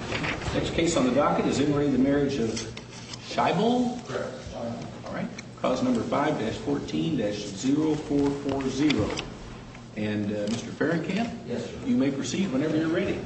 Next case on the docket is in re the Marriage of Scheibel. Correct. All right. Clause number 5-14-0440. And Mr. Fahrenkamp? Yes, sir. You may proceed whenever you're ready.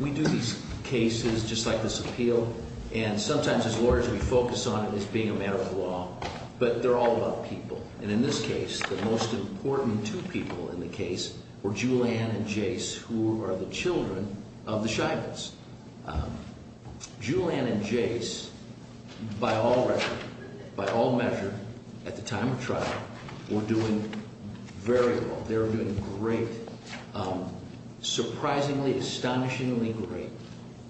We do these cases just like this appeal. And sometimes as lawyers we focus on it as being a matter of law. But they're all about people. And in this case, the most important two people in the case were Julianne and Jace, who are the children of the Scheibels. Julianne and Jace, by all record, by all measure, at the time of trial, were doing very well. They were doing great. Surprisingly, astonishingly great.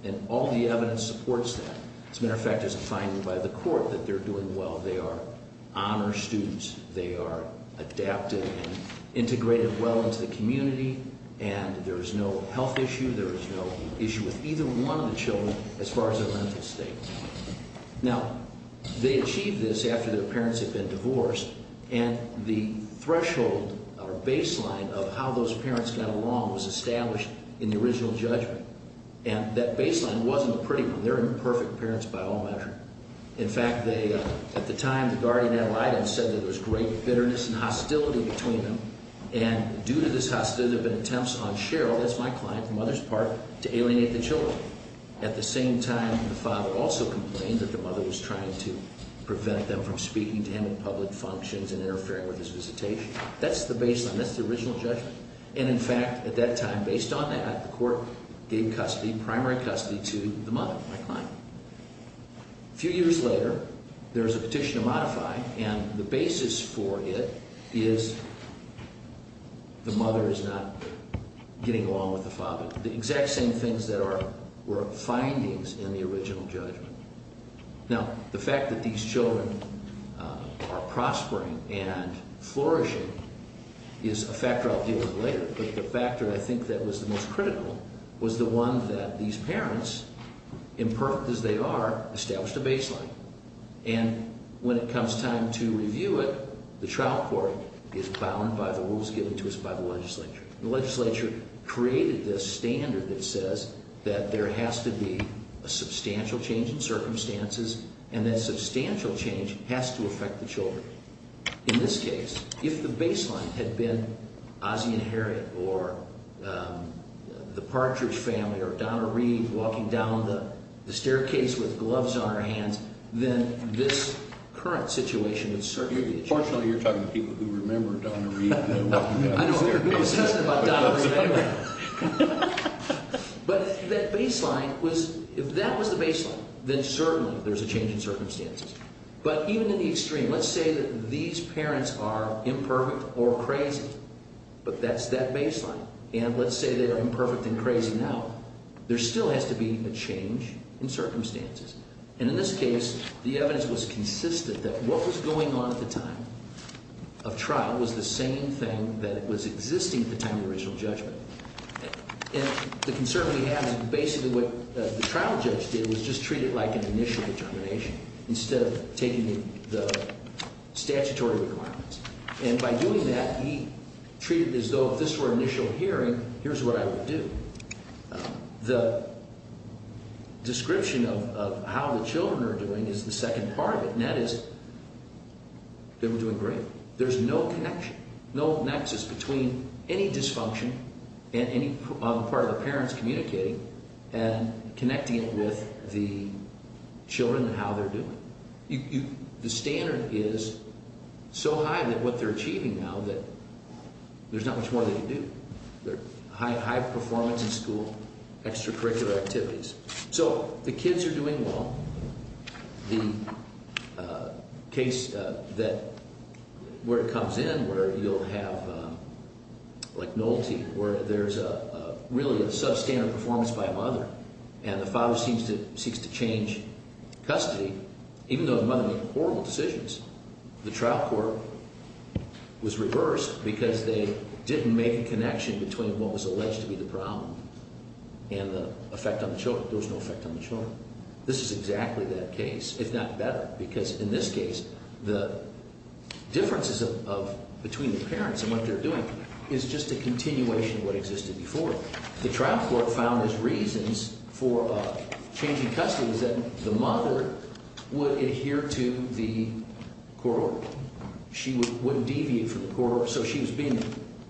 And all the evidence supports that. As a matter of fact, it's defined by the court that they're doing well. They are honor students. They are adaptive and integrated well into the community. And there is no health issue. There is no issue with either one of the children as far as their mental state. Now, they achieved this after their parents had been divorced. And the threshold or baseline of how those parents got along was established in the original judgment. And that baseline wasn't a pretty one. They're imperfect parents by all measure. In fact, at the time, the guardian ad litem said that there was great bitterness and hostility between them. And due to this hostility, there have been attempts on Cheryl, that's my client, the mother's part, to alienate the children. At the same time, the father also complained that the mother was trying to prevent them from speaking to him in public functions and interfering with his visitation. That's the baseline. That's the original judgment. And, in fact, at that time, based on that, the court gave custody, primary custody, to the mother, my client. A few years later, there was a petition to modify, and the basis for it is the mother is not getting along with the father. The exact same things that were findings in the original judgment. Now, the fact that these children are prospering and flourishing is a factor I'll deal with later. But the factor I think that was the most critical was the one that these parents, imperfect as they are, established a baseline. And when it comes time to review it, the trial court is bound by the rules given to us by the legislature. The legislature created this standard that says that there has to be a substantial change in circumstances, and that substantial change has to affect the children. In this case, if the baseline had been Ozzie and Harriet or the Partridge family or Donna Reed walking down the staircase with gloves on her hands, then this current situation would certainly be changed. Fortunately, you're talking to people who remember Donna Reed walking down the staircase with gloves on her hands. But that baseline was, if that was the baseline, then certainly there's a change in circumstances. But even in the extreme, let's say that these parents are imperfect or crazy, but that's that baseline. And let's say they are imperfect and crazy now. There still has to be a change in circumstances. And in this case, the evidence was consistent that what was going on at the time of trial was the same thing that was existing at the time of the original judgment. And the concern we have is basically what the trial judge did was just treat it like an initial determination instead of taking the statutory requirements. And by doing that, he treated it as though if this were an initial hearing, here's what I would do. The description of how the children are doing is the second part of it, and that is they were doing great. There's no connection, no nexus between any dysfunction on the part of the parents communicating and connecting it with the children and how they're doing. The standard is so high that what they're achieving now that there's not much more they can do. They're high performance in school, extracurricular activities. So the kids are doing well. The case that where it comes in where you'll have like Nolte where there's really a substandard performance by a mother, and the father seeks to change custody, even though the mother made horrible decisions. The trial court was reversed because they didn't make a connection between what was alleged to be the problem and the effect on the children. There was no effect on the children. This is exactly that case, if not better, because in this case, the differences between the parents and what they're doing is just a continuation of what existed before. The trial court found as reasons for changing custody was that the mother would adhere to the court order. She wouldn't deviate from the court order. So she was being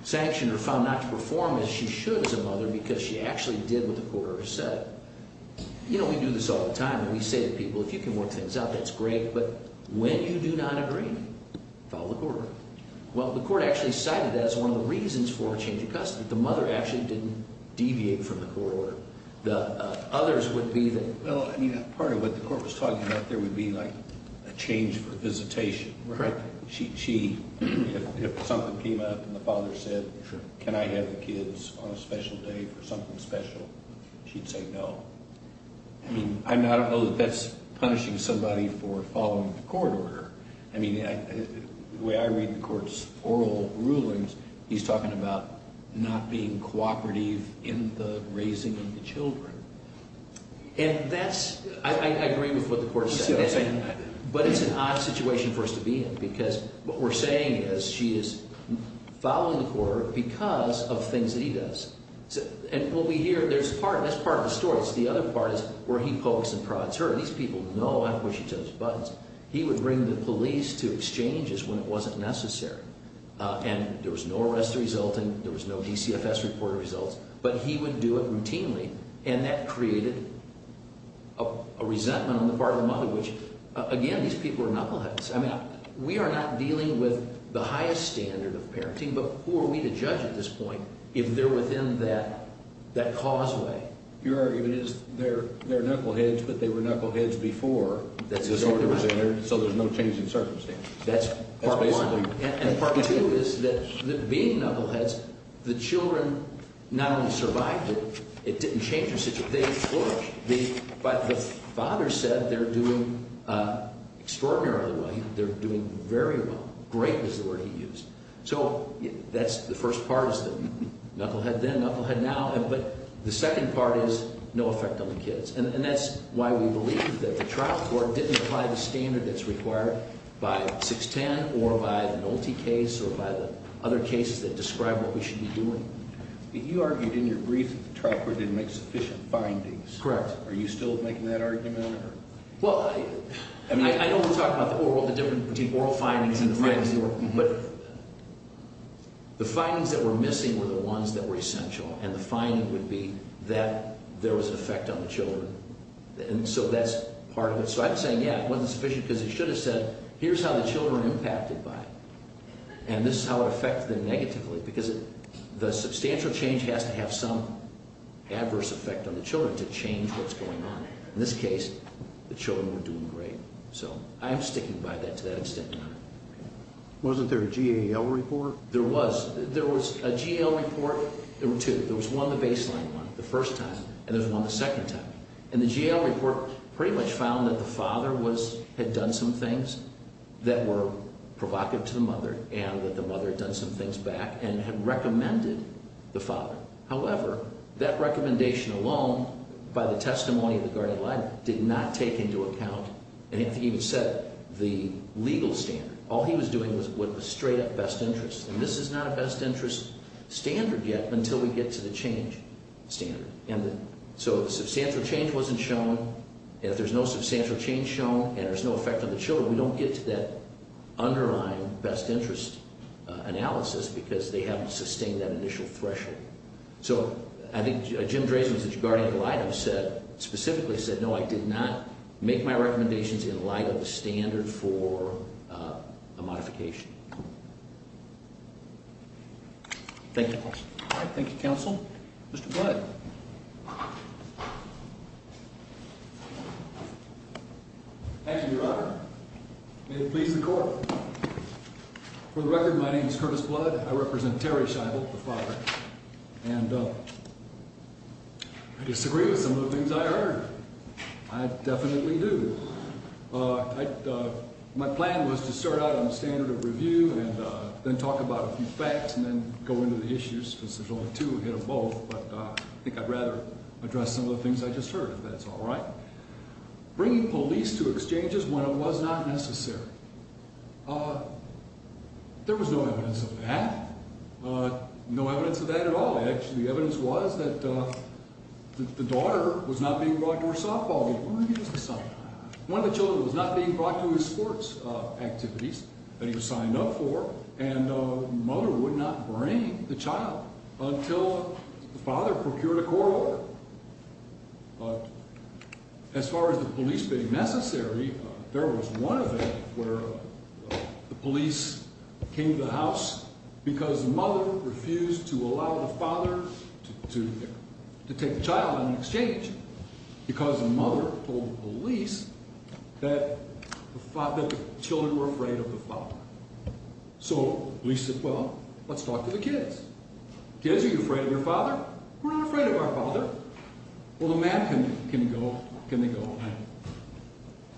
sanctioned or found not to perform as she should as a mother because she actually did what the court order said. You know, we do this all the time, and we say to people, if you can work things out, that's great, but when you do not agree, follow the court order. Well, the court actually cited that as one of the reasons for changing custody. The mother actually didn't deviate from the court order. The others would be that... Well, I mean, part of what the court was talking about there would be, like, a change for visitation, right? Correct. If something came up and the father said, can I have the kids on a special day for something special, she'd say no. I mean, I don't know that that's punishing somebody for following the court order. I mean, the way I read the court's oral rulings, he's talking about not being cooperative in the raising of the children. And that's... I agree with what the court said. You see what I'm saying? But it's an odd situation for us to be in because what we're saying is she is following the court order because of things that he does. And what we hear, that's part of the story. The other part is where he pokes and prods her. These people know I push and touch buttons. He would bring the police to exchanges when it wasn't necessary. And there was no arrest resulting. There was no DCFS reporting results. But he would do it routinely, and that created a resentment on the part of the mother, which, again, these people are knuckleheads. I mean, we are not dealing with the highest standard of parenting, but who are we to judge at this point if they're within that causeway? If it is, they're knuckleheads, but they were knuckleheads before. That's exactly right. So there's no change in circumstances. That's part one. And part two is that being knuckleheads, the children not only survived it, it didn't change their situation. They flourished. But the father said they're doing extraordinarily well. They're doing very well. Great is the word he used. So that's the first part is the knucklehead then, knucklehead now. But the second part is no effect on the kids. And that's why we believe that the trial court didn't apply the standard that's required by 610 or by the Nolte case or by the other cases that describe what we should be doing. You argued in your brief that the trial court didn't make sufficient findings. Correct. Are you still making that argument? Well, I mean, I know we're talking about the oral, the difference between oral findings and the findings of the oral. But the findings that were missing were the ones that were essential, and the finding would be that there was an effect on the children. And so that's part of it. So I'm saying, yeah, it wasn't sufficient because it should have said, here's how the children are impacted by it, and this is how it affected them negatively. Because the substantial change has to have some adverse effect on the children to change what's going on. In this case, the children were doing great. So I'm sticking by that to that extent. Wasn't there a GAL report? There was. There was a GAL report. There were two. There was one, the baseline one, the first time, and there's one the second time. And the GAL report pretty much found that the father had done some things that were provocative to the mother and that the mother had done some things back and had recommended the father. However, that recommendation alone, by the testimony of the guardian advisor, did not take into account, and he didn't even set the legal standard. All he was doing was straight-up best interest. And this is not a best interest standard yet until we get to the change standard. And so if substantial change wasn't shown, if there's no substantial change shown, and there's no effect on the children, so we don't get to that underlying best interest analysis because they haven't sustained that initial threshold. So I think Jim Drazen, the guardian of Lydo, specifically said, no, I did not make my recommendations in light of the standard for a modification. Thank you. All right. Thank you, counsel. Mr. Blood. Thank you, Your Honor. May it please the court. For the record, my name is Curtis Blood. I represent Terry Scheibel, the father. And I disagree with some of the things I heard. I definitely do. My plan was to start out on the standard of review and then talk about a few facts and then go into the issues because there's only two ahead of both. But I think I'd rather address some of the things I just heard, if that's all right. Bringing police to exchanges when it was not necessary. There was no evidence of that. No evidence of that at all. The evidence was that the daughter was not being brought to her softball game. One of the children was not being brought to his sports activities that he was signed up for. And the mother would not bring the child until the father procured a court order. As far as the police being necessary, there was one event where the police came to the house because the mother refused to allow the father to take the child on an exchange. Because the mother told the police that the children were afraid of the father. So the police said, well, let's talk to the kids. Kids, are you afraid of your father? We're not afraid of our father. Well, the man can go. Can they go?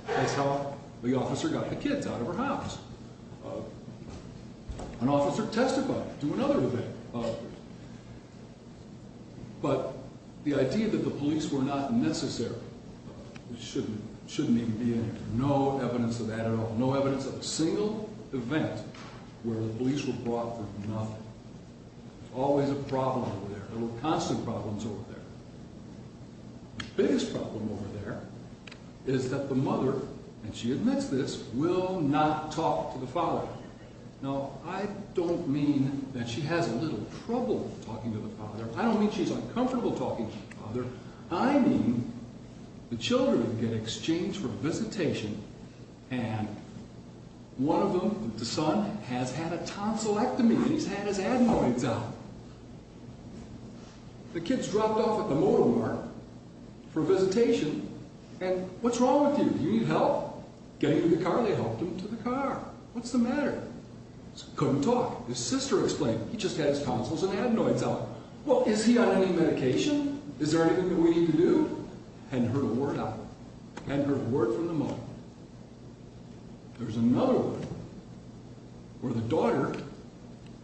That's how the officer got the kids out of her house. An officer testified to another event. But the idea that the police were not necessary shouldn't even be in here. No evidence of that at all. No evidence of a single event where the police were brought for nothing. Always a problem over there. Constant problems over there. The biggest problem over there is that the mother, and she admits this, will not talk to the father. Now, I don't mean that she has a little trouble talking to the father. I don't mean she's uncomfortable talking to the father. I mean the children get exchanged for visitation, and one of them, the son, has had a tonsillectomy. He's had his adenoids out. The kid's dropped off at the motor mart for visitation, and what's wrong with you? Do you need help? Getting to the car, they helped him to the car. What's the matter? Couldn't talk. His sister explained, he just had his tonsils and adenoids out. Well, is he on any medication? Is there anything that we need to do? Hadn't heard a word out. Hadn't heard a word from the mother. There's another one where the daughter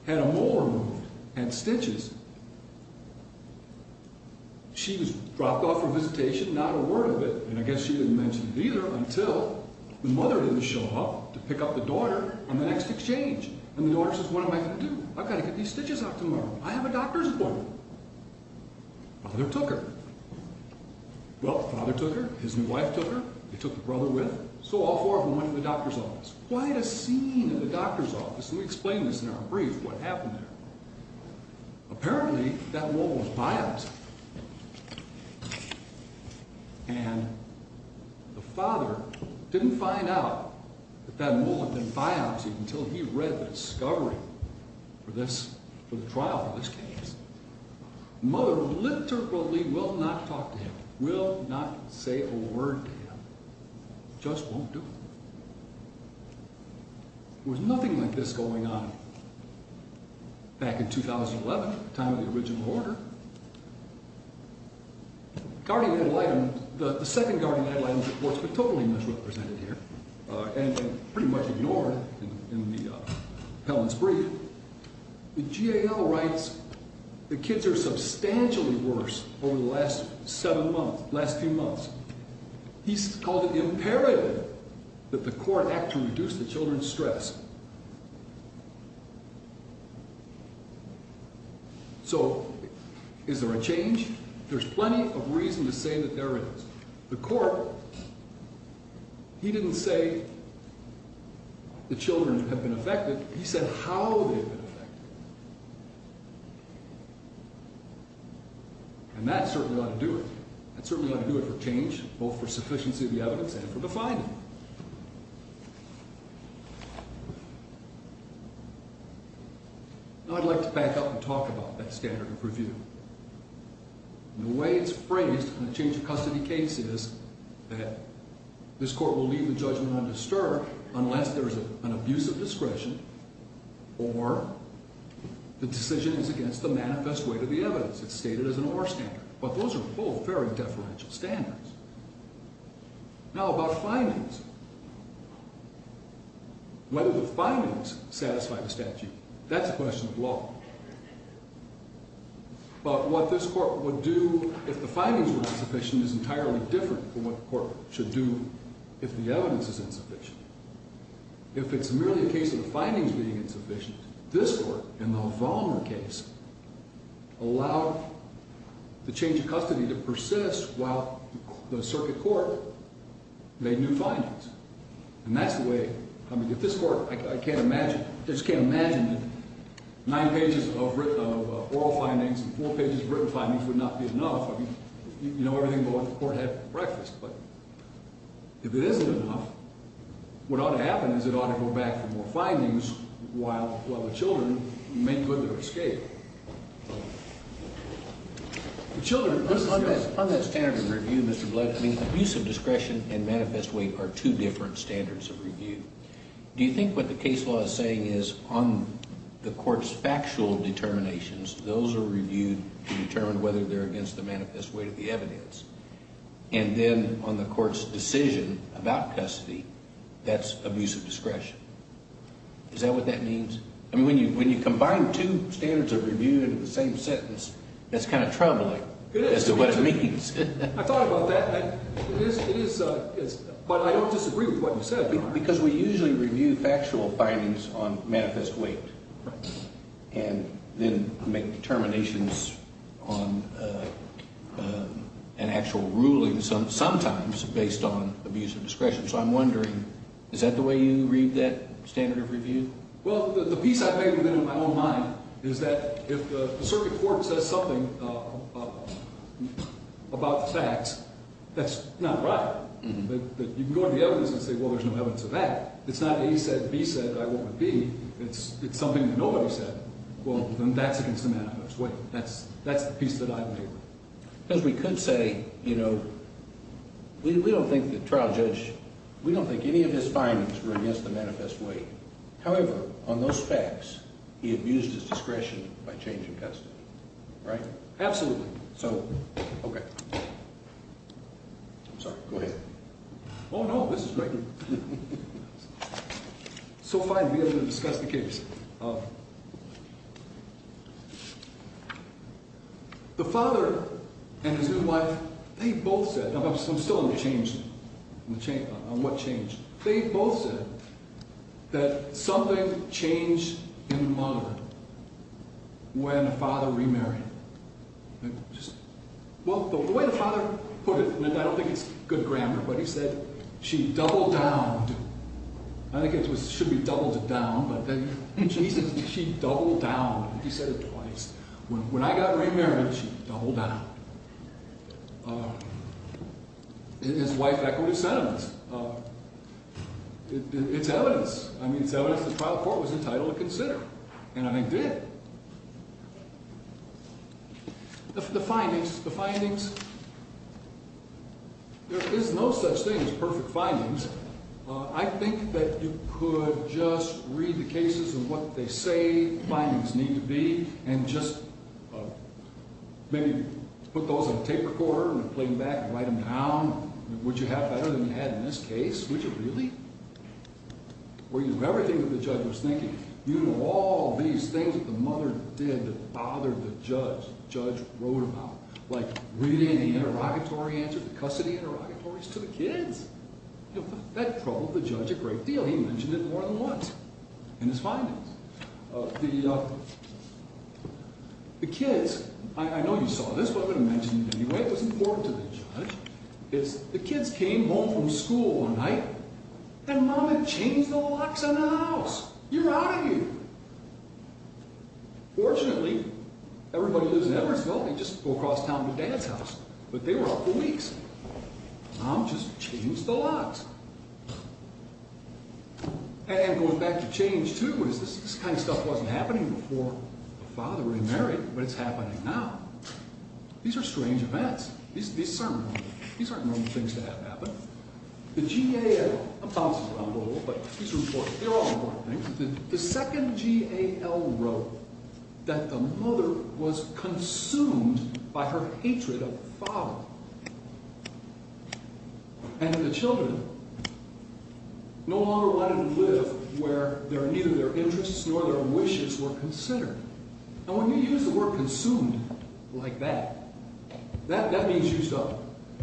had a molar removed, had stitches. She was dropped off for visitation, not a word of it, and I guess she didn't mention it either, until the mother didn't show up to pick up the daughter on the next exchange. And the daughter says, what am I going to do? I've got to get these stitches out tomorrow. I have a doctor's appointment. Father took her. Well, father took her, his new wife took her, they took the brother with them. So all four of them went to the doctor's office. Quite a scene in the doctor's office, and we explain this in our brief, what happened there. Apparently, that mole was biopsied. And the father didn't find out that that mole had been biopsied until he read the discovery for the trial of this case. Mother literally will not talk to him, will not say a word to him, just won't do it. There was nothing like this going on back in 2011, the time of the original order. The second guardian ad litem was totally misrepresented here, and pretty much ignored in the appellant's brief. The GAL writes, the kids are substantially worse over the last seven months, last few months. He's called it imperative that the court act to reduce the children's stress. So, is there a change? There's plenty of reason to say that there is. The court, he didn't say the children have been affected, he said how they've been affected. And that's certainly ought to do it. That's certainly ought to do it for change, both for sufficiency of the evidence and for defining. Now, I'd like to back up and talk about that standard of review. The way it's phrased in a change of custody case is that this court will leave the judgment undisturbed unless there is an abuse of discretion or the decision is against the manifest weight of the evidence. It's stated as an OR standard. But those are both very deferential standards. Now, about findings. Whether the findings satisfy the statute, that's a question of law. But what this court would do if the findings were insufficient is entirely different from what the court should do if the evidence is insufficient. If it's merely a case of the findings being insufficient, this court, in the Vollmer case, allowed the change of custody to persist while the circuit court made new findings. And that's the way, I mean, if this court, I can't imagine, just can't imagine nine pages of oral findings and four pages of written findings would not be enough. I mean, you know everything the court had for breakfast. If it isn't enough, what ought to happen is it ought to go back for more findings while the children make good their escape. On that standard of review, Mr. Blood, I mean, abuse of discretion and manifest weight are two different standards of review. Do you think what the case law is saying is on the court's factual determinations, those are reviewed to determine whether they're against the manifest weight of the evidence? And then on the court's decision about custody, that's abuse of discretion. Is that what that means? I mean, when you combine two standards of review into the same sentence, that's kind of troubling as to what it means. I thought about that. It is, but I don't disagree with what you said. Because we usually review factual findings on manifest weight and then make determinations on an actual ruling sometimes based on abuse of discretion. So I'm wondering, is that the way you read that standard of review? Well, the piece I've made in my own mind is that if the circuit court says something about facts, that's not right. You can go to the evidence and say, well, there's no evidence of that. It's not A said, B said, I wouldn't be. It's something that nobody said. Well, then that's against the manifest weight. That's the piece that I've made. Because we could say, you know, we don't think the trial judge, we don't think any of his findings were against the manifest weight. However, on those facts, he abused his discretion by changing custody. Right? Absolutely. Okay. I'm sorry. Go ahead. Oh, no, this is great. So finally, I'm going to discuss the case. The father and his new wife, they both said, I'm still on the change, on what changed. They both said that something changed in the mother when the father remarried. Well, the way the father put it, I don't think it's good grammar, but he said, she doubled down. I think it should be doubled down, but he said she doubled down. He said it twice. When I got remarried, she doubled down. His wife echoed his sentiments. It's evidence. I mean, it's evidence the trial court was entitled to consider, and I did. The findings, the findings, there is no such thing as perfect findings. I think that you could just read the cases and what they say the findings need to be and just maybe put those on a tape recorder and play them back and write them down. Would you have better than you had in this case? Would you really? Were you everything that the judge was thinking? You know, all these things that the mother did that bothered the judge, the judge wrote about, like reading the interrogatory answers, the custody interrogatories to the kids. That troubled the judge a great deal. He mentioned it more than once in his findings. The kids, I know you saw this, but I'm going to mention it anyway. It was important to the judge. The kids came home from school one night, and Mom had changed the locks on the house. You're out of here. Fortunately, everybody lives in Edwardsville. They just go across town to Dad's house. But they were out for weeks. Mom just changed the locks. And going back to change, too, is this kind of stuff wasn't happening before the father remarried, but it's happening now. These are strange events. These aren't normal things to have happen. The GAO, I'm bouncing around a little, but these are important. They're all important things. The second GAO wrote that the mother was consumed by her hatred of the father. And the children no longer wanted to live where neither their interests nor their wishes were considered. And when you use the word consumed like that, that means used up.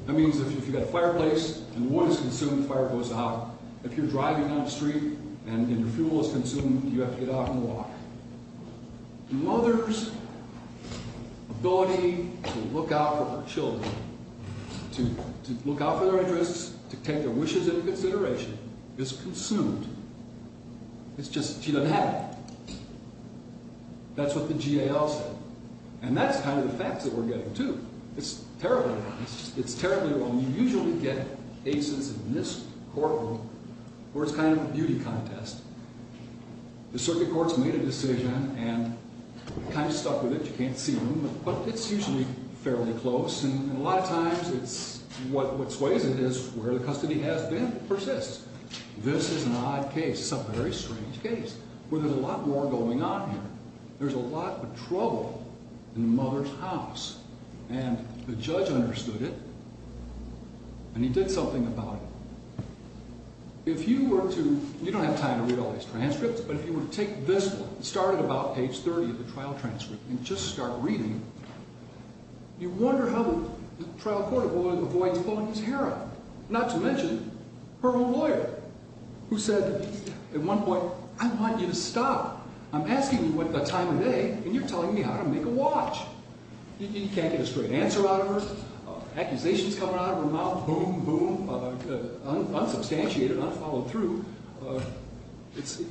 That means if you've got a fireplace and the wood is consumed, the fire goes out. If you're driving down the street and your fuel is consumed, you have to get off and walk. The mother's ability to look out for her children, to look out for their interests, to take their wishes into consideration, is consumed. She doesn't have it. That's what the GAO said. And that's kind of the facts that we're getting, too. It's terribly wrong. It's terribly wrong. You usually get cases in this courtroom where it's kind of a beauty contest. The circuit court's made a decision and kind of stuck with it. You can't see room. But it's usually fairly close. And a lot of times what sways it is where the custody has been persists. This is an odd case. It's a very strange case where there's a lot more going on here. There's a lot of trouble in the mother's house. And the judge understood it. And he did something about it. If you were to, you don't have time to read all these transcripts, but if you were to take this one, start at about page 30 of the trial transcript, and just start reading, you wonder how the trial court avoids pulling his hair out, not to mention her own lawyer, who said at one point, I want you to stop. I'm asking you what time of day, and you're telling me how to make a watch. You can't get a straight answer out of her. Accusations coming out of her mouth, boom, boom, unsubstantiated, unfollowed through.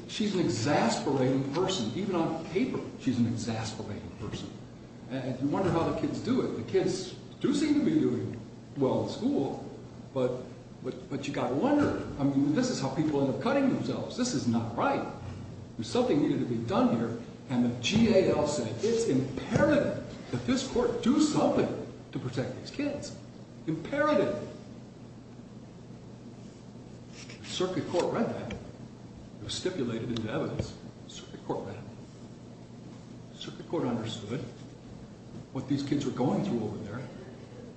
She's an exasperating person. Even on paper, she's an exasperating person. And you wonder how the kids do it. The kids do seem to be doing well in school, but you've got to wonder. I mean, this is how people end up cutting themselves. This is not right. There's something needed to be done here. And the GAL said it's imperative that this court do something to protect these kids. Imperative. Circuit court read that. It was stipulated into evidence. Circuit court read it. Circuit court understood what these kids were going through over there,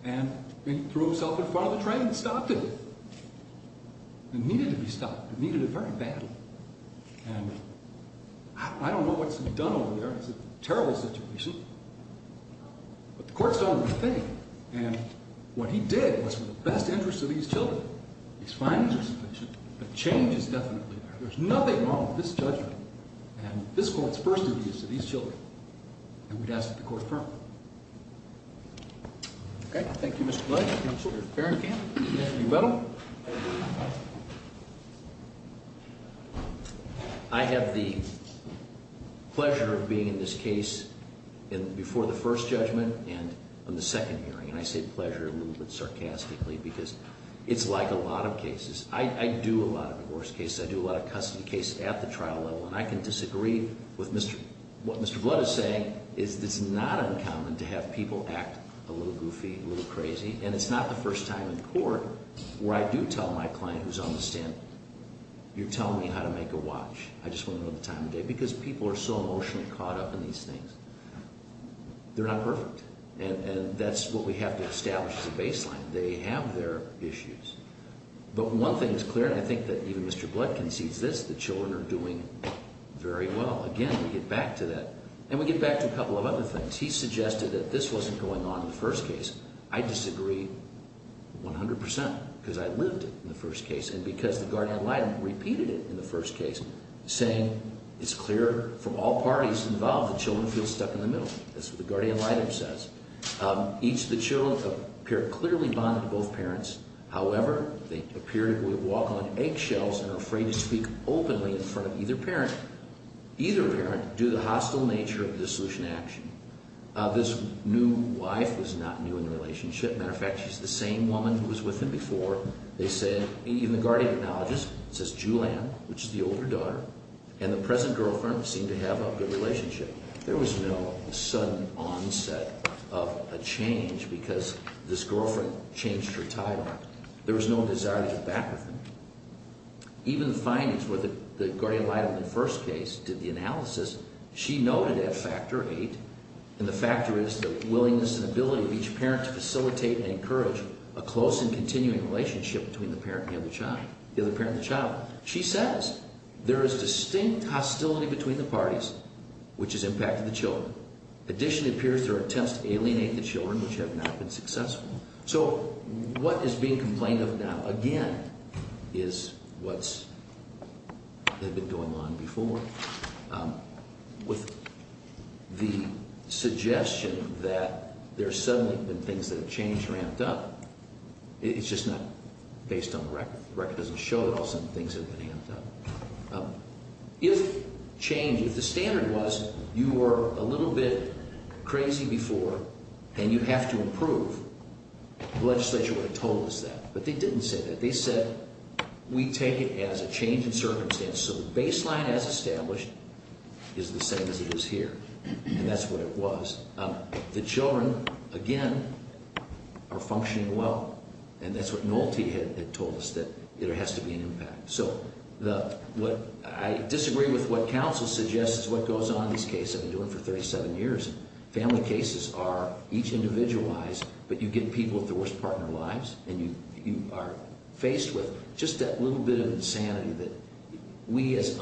and they threw themselves in front of the train and stopped it. It needed to be stopped. It needed it very badly. And I don't know what's been done over there. It's a terrible situation. But the court's done everything. And what he did was for the best interest of these children. These findings are sufficient, but change is definitely there. There's nothing wrong with this judgment and this court's first advice to these children. And we'd ask that the court confirm it. Okay. Thank you, Mr. Blake. Thank you, Mr. Farrenkamp. Mr. Ubedo. I have the pleasure of being in this case before the first judgment and on the second hearing. And I say pleasure a little bit sarcastically because it's like a lot of cases. I do a lot of divorce cases. I do a lot of custody cases at the trial level. And I can disagree with what Mr. Blood is saying. It's not uncommon to have people act a little goofy, a little crazy. And it's not the first time in court where I do tell my client who's on the stand, you're telling me how to make a watch. I just want to know the time of day. Because people are so emotionally caught up in these things. They're not perfect. And that's what we have to establish as a baseline. They have their issues. But one thing is clear, and I think that even Mr. Blood concedes this, the children are doing very well. Again, we get back to that. And we get back to a couple of other things. He suggested that this wasn't going on in the first case. I disagree 100 percent because I lived it in the first case and because the guardian ad litem repeated it in the first case, saying it's clear from all parties involved that children feel stuck in the middle. That's what the guardian ad litem says. Each of the children appear clearly bonded to both parents. However, they appear to walk on eggshells and are afraid to speak openly in front of either parent. Either parent, due to the hostile nature of dissolution action, this new wife was not new in the relationship. As a matter of fact, she's the same woman who was with him before. They said, even the guardian acknowledges, says Julianne, which is the older daughter, and the present girlfriend seemed to have a good relationship. There was no sudden onset of a change because this girlfriend changed her title. There was no desire to get back with him. Even the findings were that the guardian ad litem in the first case did the analysis. She noted at factor eight, and the factor is the willingness and ability of each parent to facilitate and encourage a close and continuing relationship between the parent and the child. She says there is distinct hostility between the parties, which has impacted the children. In addition, it appears there are attempts to alienate the children, which have not been successful. So what is being complained of now, again, is what's been going on before. With the suggestion that there's suddenly been things that have changed or amped up, it's just not based on the record. The record doesn't show that all of a sudden things have been amped up. If change, if the standard was you were a little bit crazy before and you have to improve, the legislature would have told us that. But they didn't say that. They said we take it as a change in circumstance. So the baseline as established is the same as it is here. And that's what it was. The children, again, are functioning well. And that's what Noelte had told us, that there has to be an impact. So I disagree with what counsel suggests what goes on in these cases. I've been doing it for 37 years. Family cases are each individualized, but you get people with the worst part in their lives, and you are faced with just that little bit of insanity that we as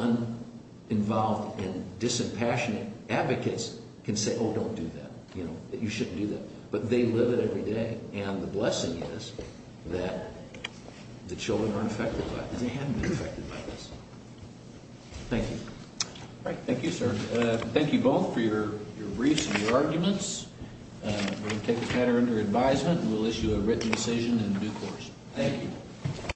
uninvolved and disimpassionate advocates can say, oh, don't do that, that you shouldn't do that. But they live it every day, and the blessing is that the children aren't affected by it. They haven't been affected by this. Thank you. Thank you, sir. Thank you both for your briefs and your arguments. We're going to take this matter under advisement. We'll issue a written decision in due course. Thank you.